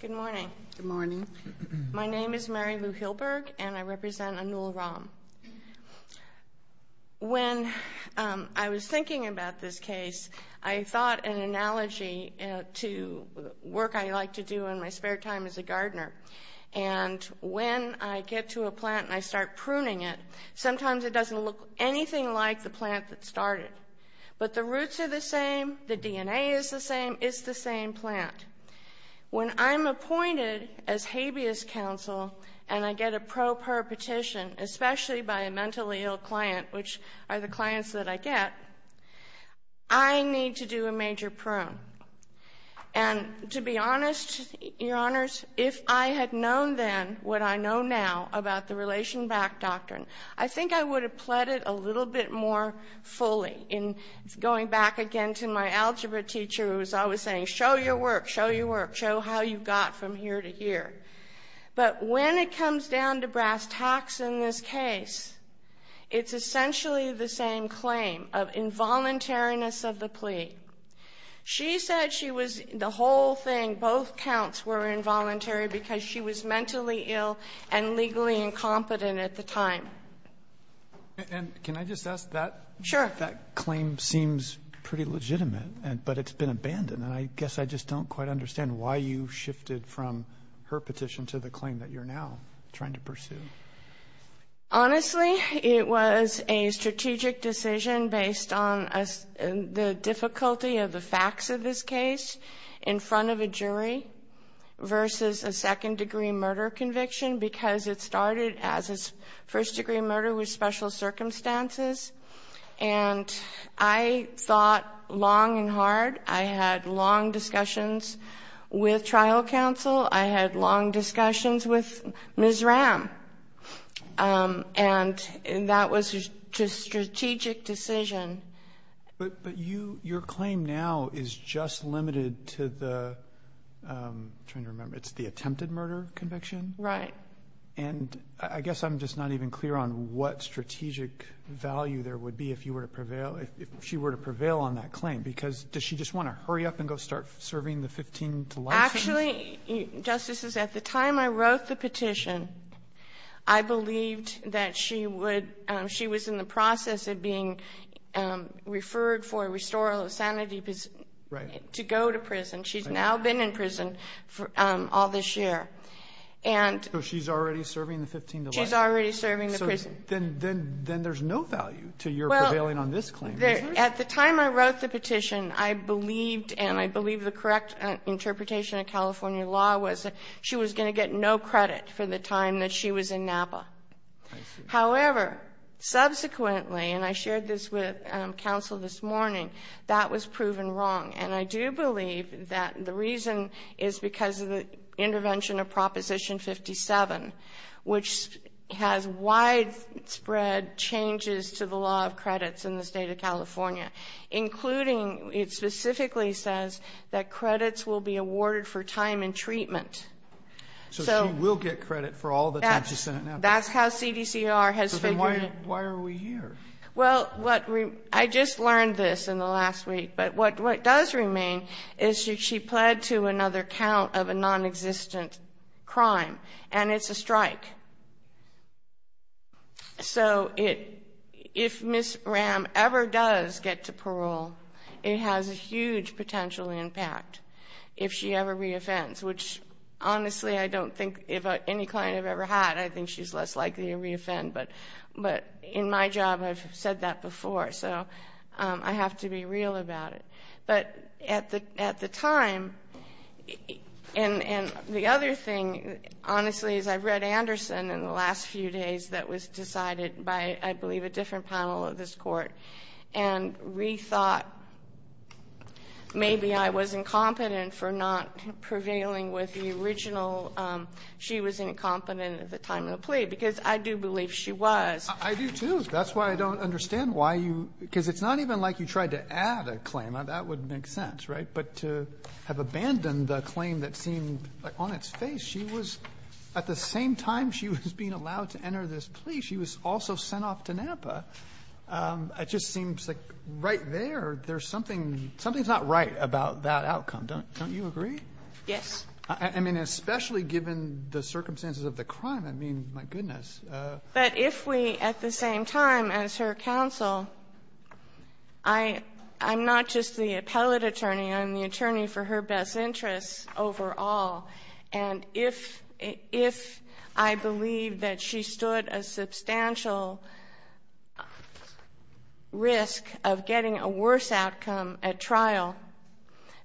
Good morning. Good morning. My name is Mary Lou Hilberg and I represent Anul Ram. When I was thinking about this case I thought an analogy to work I like to do in my spare time as a gardener and when I get to a plant and I start pruning it sometimes it doesn't look anything like the plant that started but the roots are the same, the DNA is the same, it's the same plant. When I'm appointed as habeas counsel and I get a pro per petition especially by a mentally ill client which are the clients that I get I need to do a major prune and to be honest your honors if I had known then what I know now about the relation back doctrine I think I would have pled it a little bit more fully in going back again to my algebra teacher who's always saying show your work, show your work, show how you got from here to here. But when it comes down to brass tacks in this case it's essentially the same claim of involuntariness of the plea. She said she was the whole thing both counts were involuntary because she was mentally ill and legally incompetent at the time. And can I just ask that? Sure. That claim seems pretty legitimate and but it's been abandoned and I guess I just don't quite understand why you shifted from her petition to the claim that you're now trying to pursue. Honestly it was a strategic decision based on the difficulty of the facts of this case in front of a jury versus a second-degree murder conviction because it started as a first-degree murder with special circumstances and I thought long and hard. I had long discussions with trial counsel. I had long discussions with Ms. Ram and that was just a strategic decision. But you your claim now is just limited to the trying to remember it's the attempted murder conviction? Right. And I guess I'm just not even clear on what strategic value there would be if you were to prevail if she were to prevail on that claim because does she just want to hurry up and go start serving the 15 delights? Actually, Justices, at the time I wrote the petition I believed that she would she was in the process of being referred for a restorative sanity to go to prison. She's now been in prison for all this year. And. So she's already serving the 15 delights? She's already serving the prison. Then there's no value to your prevailing on this claim. At the time I wrote the petition I believed and I believe the correct interpretation of California law was she was going to get no credit for the time that she was in Napa. However, subsequently and I shared this with counsel this morning that was proven wrong and I do believe that the intervention of Proposition 57 which has widespread changes to the law of credits in the state of California including it specifically says that credits will be awarded for time and treatment. So she will get credit for all the time she's in Napa? That's how CDCR has figured it. Then why are we here? Well, I just learned this in the last week but what what does remain is she pled to another count of a non-existent crime and it's a strike. So if Ms. Ram ever does get to parole it has a huge potential impact if she ever re-offends which honestly I don't think if any client I've ever had I think she's less likely to re-offend but but in my job I've said that before so I have to be real about it. But at the time and and the other thing honestly is I've read Anderson in the last few days that was decided by I believe a different panel of this court and rethought maybe I was incompetent for not prevailing with the original she was incompetent at the time of the plea because I do believe she was. I do too that's why I don't understand why you because it's not even like you tried to have abandoned the claim that seemed like on its face she was at the same time she was being allowed to enter this plea she was also sent off to Napa. It just seems like right there there's something something's not right about that outcome don't don't you agree? Yes. I mean especially given the circumstances of the crime I mean my goodness. But if we at the same time as her counsel I I'm not just the attorney for her best interests overall and if if I believe that she stood a substantial risk of getting a worse outcome at trial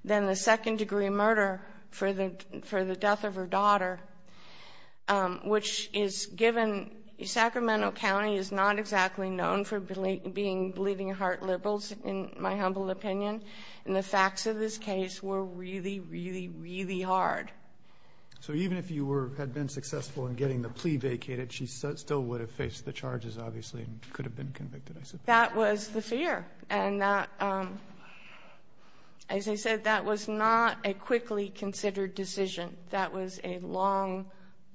than the second degree murder for the for the death of her daughter which is given Sacramento County is not exactly known for being bleeding-heart liberals in my humble opinion and the facts of this case were really really really hard. So even if you were had been successful in getting the plea vacated she still would have faced the charges obviously could have been convicted. That was the fear and as I said that was not a quickly considered decision that was a long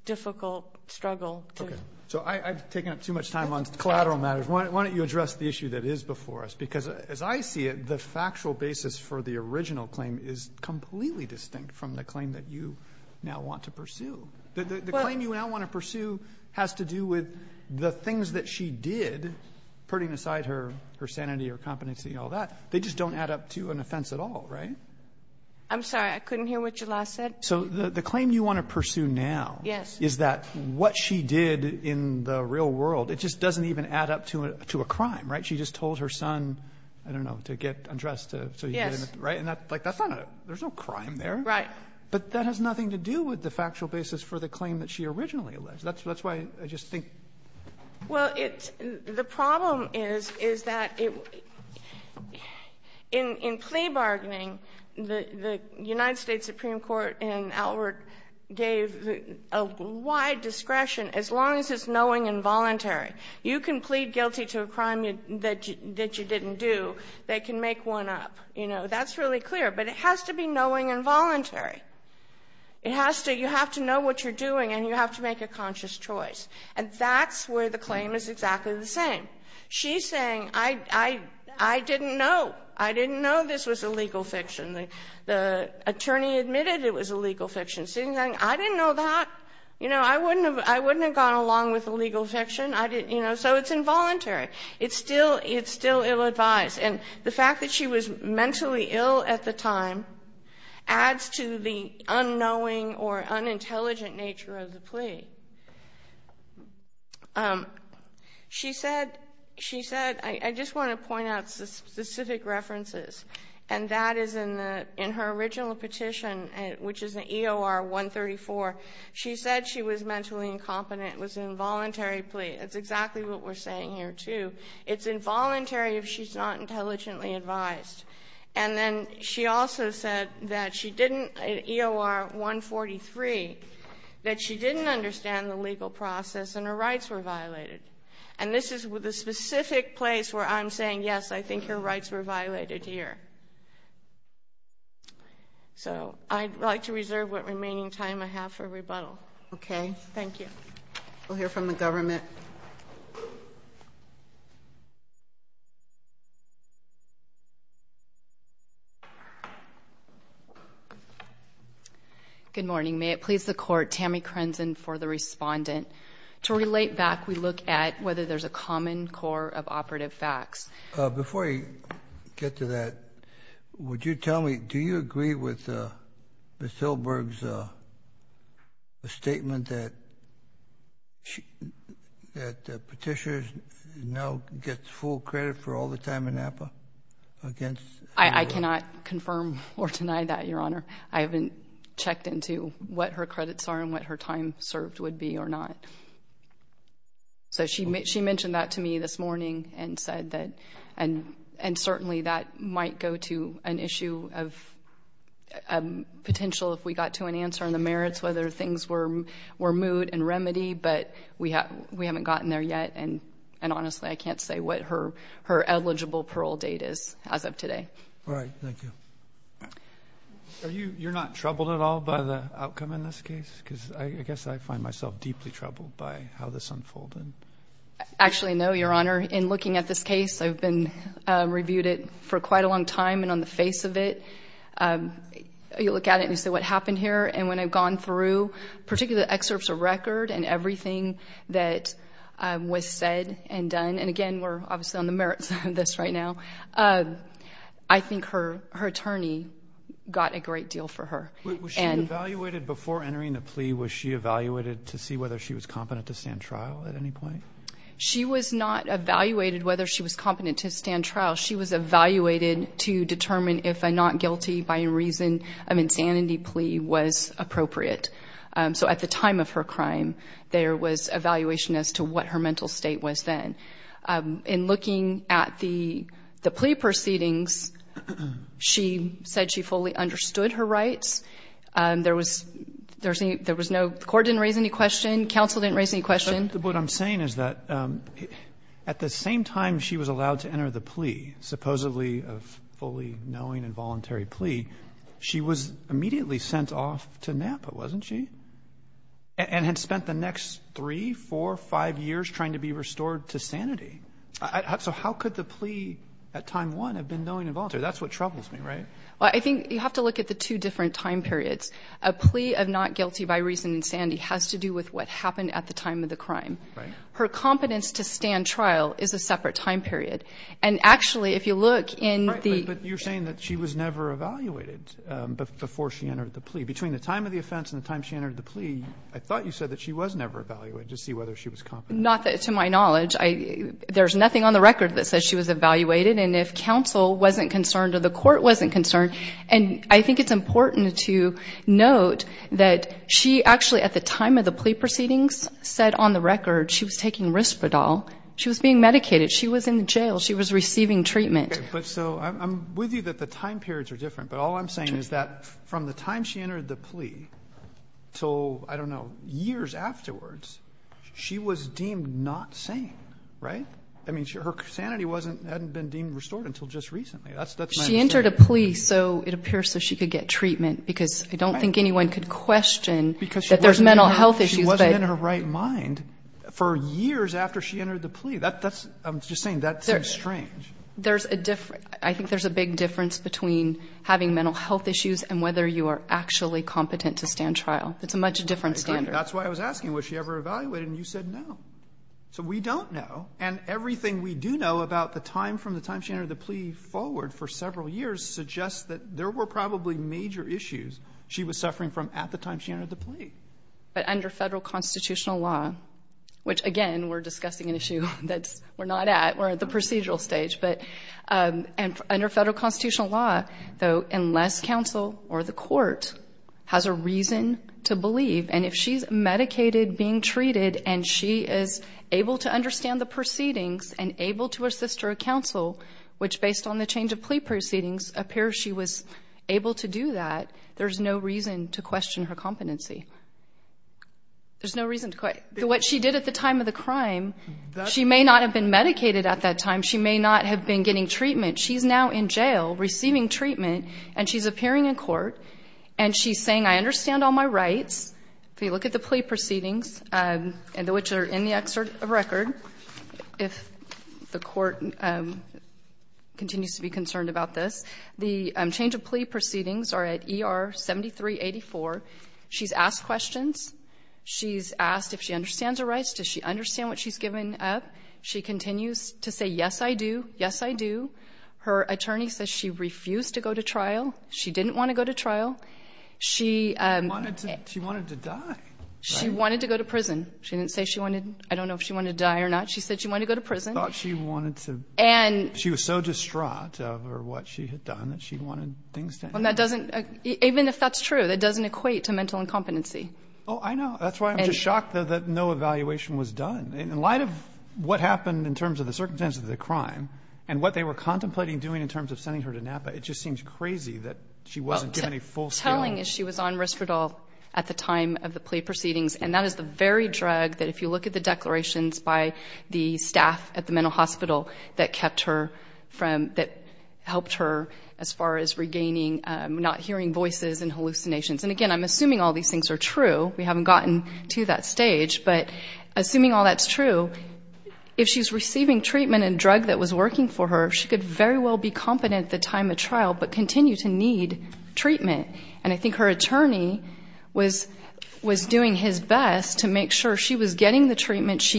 difficult struggle. Okay so I've taken up too much time on collateral matters why don't you address the issue that is before us because as I see it the factual basis for the original claim is completely distinct from the claim that you now want to pursue. The claim you now want to pursue has to do with the things that she did putting aside her her sanity or competency and all that they just don't add up to an offense at all right? I'm sorry I couldn't hear what you last said. So the the claim you want to pursue now yes is that what she did in the real world it just doesn't even add up to a crime right? She just told her son I don't know to get undressed. Yes. Right and that like that's not a there's no crime there. Right. But that has nothing to do with the factual basis for the claim that she originally alleged. That's that's why I just think. Well it's the problem is is that it in in plea bargaining the the United States Supreme Court and Albert gave a wide discretion as long as knowing involuntary. You can plead guilty to a crime you that you didn't do they can make one up you know that's really clear but it has to be knowing involuntary. It has to you have to know what you're doing and you have to make a conscious choice and that's where the claim is exactly the same. She's saying I I I didn't know I didn't know this was a legal fiction. The attorney admitted it was a legal fiction. I didn't know that you know I wouldn't have I wouldn't have gone along with the legal fiction. I didn't you know so it's involuntary. It's still it's still ill-advised and the fact that she was mentally ill at the time adds to the unknowing or unintelligent nature of the plea. She said she said I just want to point out specific references and that is in the in her original petition and which is an EOR 134 she said she was mentally incompetent was involuntary plea. It's exactly what we're saying here too. It's involuntary if she's not intelligently advised and then she also said that she didn't EOR 143 that she didn't understand the legal process and her rights were violated and this is with a specific place where I'm saying yes I think her rights were violated here. So I'd like to reserve what remaining time I have for rebuttal. Okay thank you. We'll hear from the government. Good morning may it please the court Tammy Crenson for the respondent. To relate back we look at whether there's a common core of operative facts. Before I a statement that that petitions no gets full credit for all the time in Napa against. I cannot confirm or deny that your honor. I haven't checked into what her credits are and what her time served would be or not. So she made she mentioned that to me this morning and said that and and certainly that might go to an issue of potential if we got to an answer on the merits whether things were were moot and remedy but we haven't gotten there yet and and honestly I can't say what her her eligible parole date is as of today. All right thank you. Are you you're not troubled at all by the outcome in this case because I guess I find myself deeply troubled by how this unfolded. Actually no your honor in looking at this case I've been reviewed it for quite a long time and on the face of it you look at it and you say what happened here and when I've gone through particular excerpts of record and everything that was said and done and again we're obviously on the merits of this right now. I think her her attorney got a great deal for her. Was she evaluated before entering the plea was she evaluated to see whether she was competent to stand trial at any point? She was not evaluated whether she was competent to stand trial she was evaluated to determine if a not guilty by reason of insanity plea was appropriate. So at the time of her crime there was evaluation as to what her mental state was then. In looking at the the plea proceedings she said she fully understood her rights. There was there was no court didn't raise any question counsel didn't raise any question. What I'm saying is that at the same time she was allowed to enter the plea supposedly of fully knowing and voluntary plea she was immediately sent off to Napa wasn't she? And had spent the next three four five years trying to be restored to sanity. So how could the plea at time one have been knowing and voluntary that's what troubles me right? Well I think you have to look at the two different time periods. A plea of not guilty by reason insanity has to do with what happened at the time of the crime. Her competence to stand trial is a separate time period and actually if you look in the... But you're saying that she was never evaluated before she entered the plea. Between the time of the offense and the time she entered the plea I thought you said that she was never evaluated to see whether she was competent. Not that to my knowledge. I there's nothing on the record that says she was evaluated and if counsel wasn't concerned or the court wasn't concerned and I think it's important to note that she actually at the time of the plea proceedings said on the record she was taking Risperdal she was being medicated she was in the jail she was receiving treatment. But so I'm with you that the time periods are different but all I'm saying is that from the time she entered the plea so I don't know years afterwards she was deemed not sane right? I mean her sanity wasn't hadn't been deemed restored until just recently. She entered a plea so it appears so she could get that there's mental health issues. She wasn't in her right mind for years after she entered the plea. That's I'm just saying that's strange. There's a different I think there's a big difference between having mental health issues and whether you are actually competent to stand trial. It's a much different standard. That's why I was asking was she ever evaluated and you said no. So we don't know and everything we do know about the time from the time she entered the plea forward for several years suggests that there were probably major issues she was under the plea. But under federal constitutional law which again we're discussing an issue that's we're not at we're at the procedural stage but and under federal constitutional law though unless counsel or the court has a reason to believe and if she's medicated being treated and she is able to understand the proceedings and able to assist her counsel which based on the change of plea proceedings appears she was able to do that there's no reason to question her competency. There's no reason to question. What she did at the time of the crime she may not have been medicated at that time she may not have been getting treatment she's now in jail receiving treatment and she's appearing in court and she's saying I understand all my rights if you look at the plea proceedings and the which are in the excerpt of record if the court continues to be concerned about this the change of plea proceedings are at ER 7384 she's asked questions she's asked if she understands her rights does she understand what she's given up she continues to say yes I do yes I do her attorney says she refused to go to trial she didn't want to go to trial she wanted to she wanted to die she wanted to go to prison she didn't say she wanted I don't know if she wanted to die or not she said she wanted to go to prison she wanted to and she was so distraught over what she had done that she wanted things done that doesn't even if that's true that doesn't equate to mental incompetency oh I know that's why I'm just shocked that no evaluation was done in light of what happened in terms of the circumstances of the crime and what they were contemplating doing in terms of sending her to Napa it just seems crazy that she wasn't giving a full telling is she was on risperdal at the time of the plea proceedings and that is the very drug that if you look at the declarations by the staff at the mental hospital that kept her from that helped her as far as regaining not hearing voices and hallucinations and again I'm assuming all these things are true we haven't gotten to that stage but assuming all that's true if she's receiving treatment and drug that was working for her she could very well be competent the time of trial but continue to need treatment and I think her attorney was was doing his best to make sure she was getting the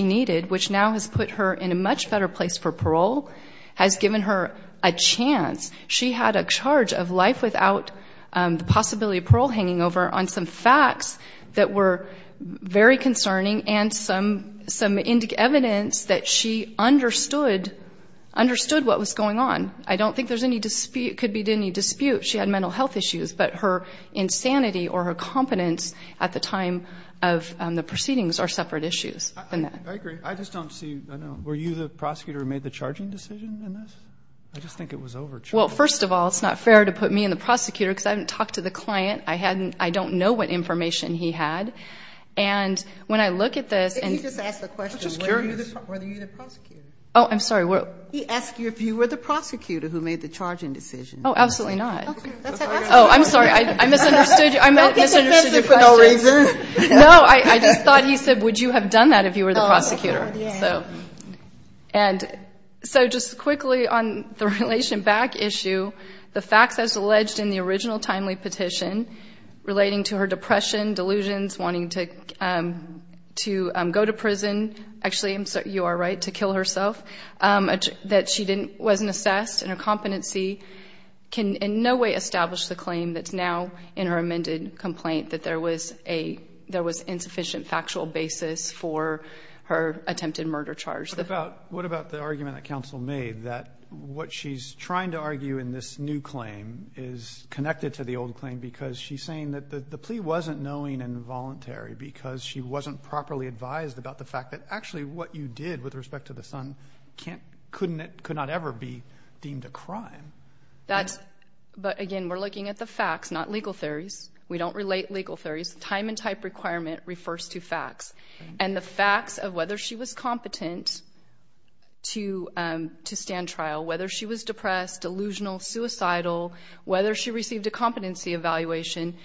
needed which now has put her in a much better place for parole has given her a chance she had a charge of life without the possibility of parole hanging over on some facts that were very concerning and some some indic evidence that she understood understood what was going on I don't think there's any dispute could be did any dispute she had mental health issues but her insanity or her at the time of the proceedings are separate issues I just don't see were you the prosecutor made the charging decision I just think it was over well first of all it's not fair to put me in the prosecutor because I haven't talked to the client I hadn't I don't know what information he had and when I look at this oh I'm sorry well he asked you if you were the prosecutor who made the no I thought he said would you have done that if you were the prosecutor so and so just quickly on the relation back issue the facts as alleged in the original timely petition relating to her depression delusions wanting to to go to prison actually I'm sorry you are right to kill herself that she didn't wasn't assessed and her competency can in no way establish the claim that's now in her amended complaint that there was a there was insufficient factual basis for her attempted murder charge that about what about the argument that counsel made that what she's trying to argue in this new claim is connected to the old claim because she's saying that the plea wasn't knowing involuntary because she wasn't properly advised about the fact that actually what you did with respect to the Sun can't couldn't it could not ever be deemed a that's but again we're looking at the facts not legal theories we don't relate legal theories time and type requirement refers to facts and the facts of whether she was competent to to stand trial whether she was depressed delusional suicidal whether she received a competency evaluation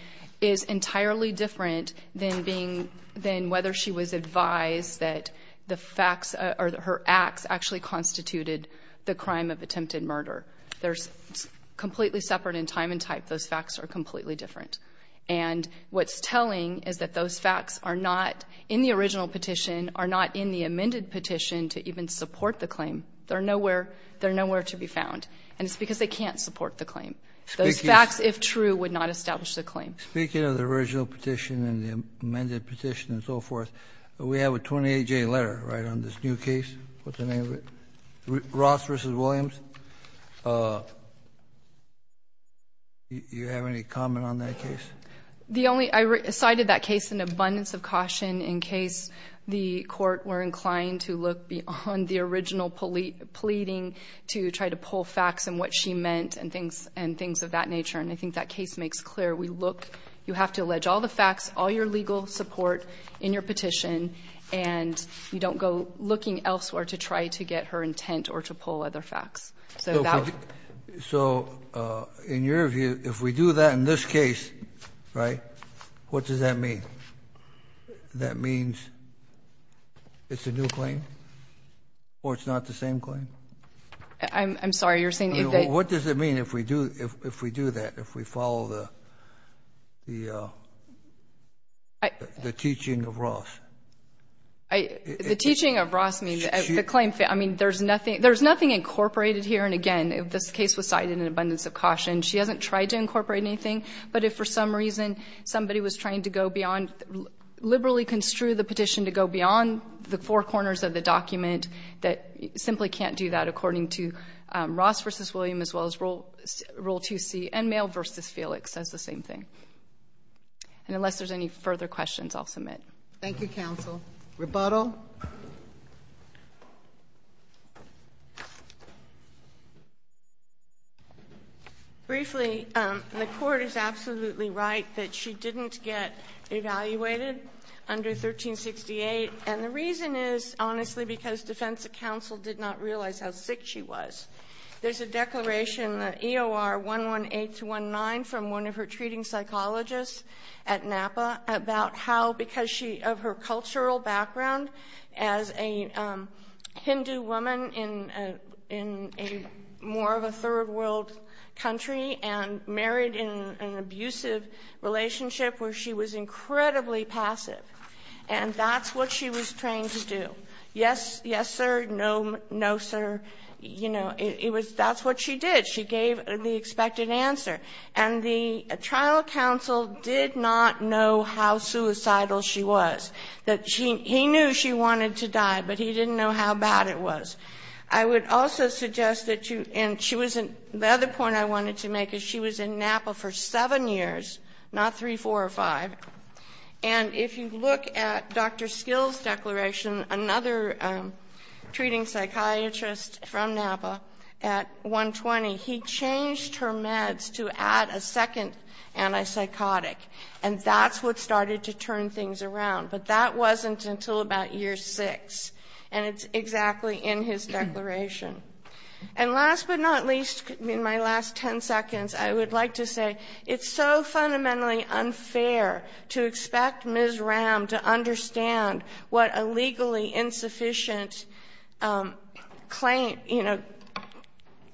is entirely different than being then whether she was advised that the facts are that her murder there's completely separate in time and type those facts are completely different and what's telling is that those facts are not in the original petition are not in the amended petition to even support the claim they're nowhere they're nowhere to be found and it's because they can't support the claim those facts if true would not establish the claim speaking of the original petition and the amended petition and so forth we have a 28-day letter right on this new case what's the name of it Ross versus Williams you have any comment on that case the only I recited that case an abundance of caution in case the court were inclined to look beyond the original police pleading to try to pull facts and what she meant and things and things of that nature and I think that case makes clear we look you have to allege all the facts all your legal support in your petition and you don't go looking elsewhere to try to get her intent or to pull other facts so so in your view if we do that in this case right what does that mean that means it's a new claim or it's not the same claim I'm sorry you're saying what does it mean if we do if we do that if we follow the the teaching of Ross the teaching of Ross means the claim fit I mean there's nothing there's nothing incorporated here and again if this case was cited in abundance of caution she hasn't tried to incorporate anything but if for some reason somebody was trying to go beyond liberally construe the petition to go beyond the four corners of the document that simply can't do that according to Ross versus William as well as roll roll to see and mail versus Felix says the same thing and unless there's any further questions I'll submit thank you counsel rebuttal briefly the court is absolutely right that she didn't get evaluated under 1368 and the reason is honestly because defense counsel did not realize how sick she was there's a declaration in the EOR 118 to 19 from one of her treating psychologists at Napa about how because she of her cultural background as a Hindu woman in in a more of a third-world country and married in an to do yes yes sir no no sir you know it was that's what she did she gave the expected answer and the trial counsel did not know how suicidal she was that she he knew she wanted to die but he didn't know how bad it was I would also suggest that you and she wasn't the other point I wanted to make is she was in Napa for seven years not three four or five and if you look at dr. skills declaration another treating psychiatrist from Napa at 120 he changed her meds to add a second and I psychotic and that's what started to turn things around but that wasn't until about year six and it's exactly in his declaration and last but not least in my last 10 seconds I would like to say it's so fundamentally unfair to expect ms. Ram to understand what a legally insufficient claim you know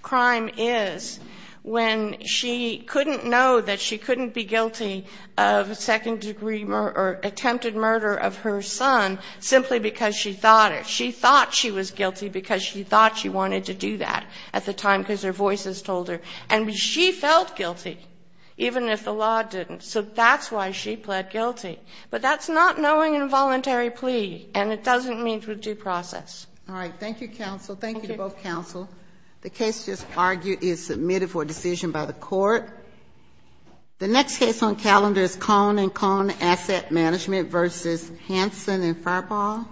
crime is when she couldn't know that she couldn't be guilty of second-degree murder attempted murder of her son simply because she thought it she thought she was guilty because she thought she wanted to do that at the time because her voices told her and she felt guilty even if the law didn't so that's why she pled guilty but that's not knowing involuntary plea and it doesn't mean through due process all right thank you counsel thank you both counsel the case just argued is submitted for decision by the court the next case on calendar is calling calling asset management versus Hanson and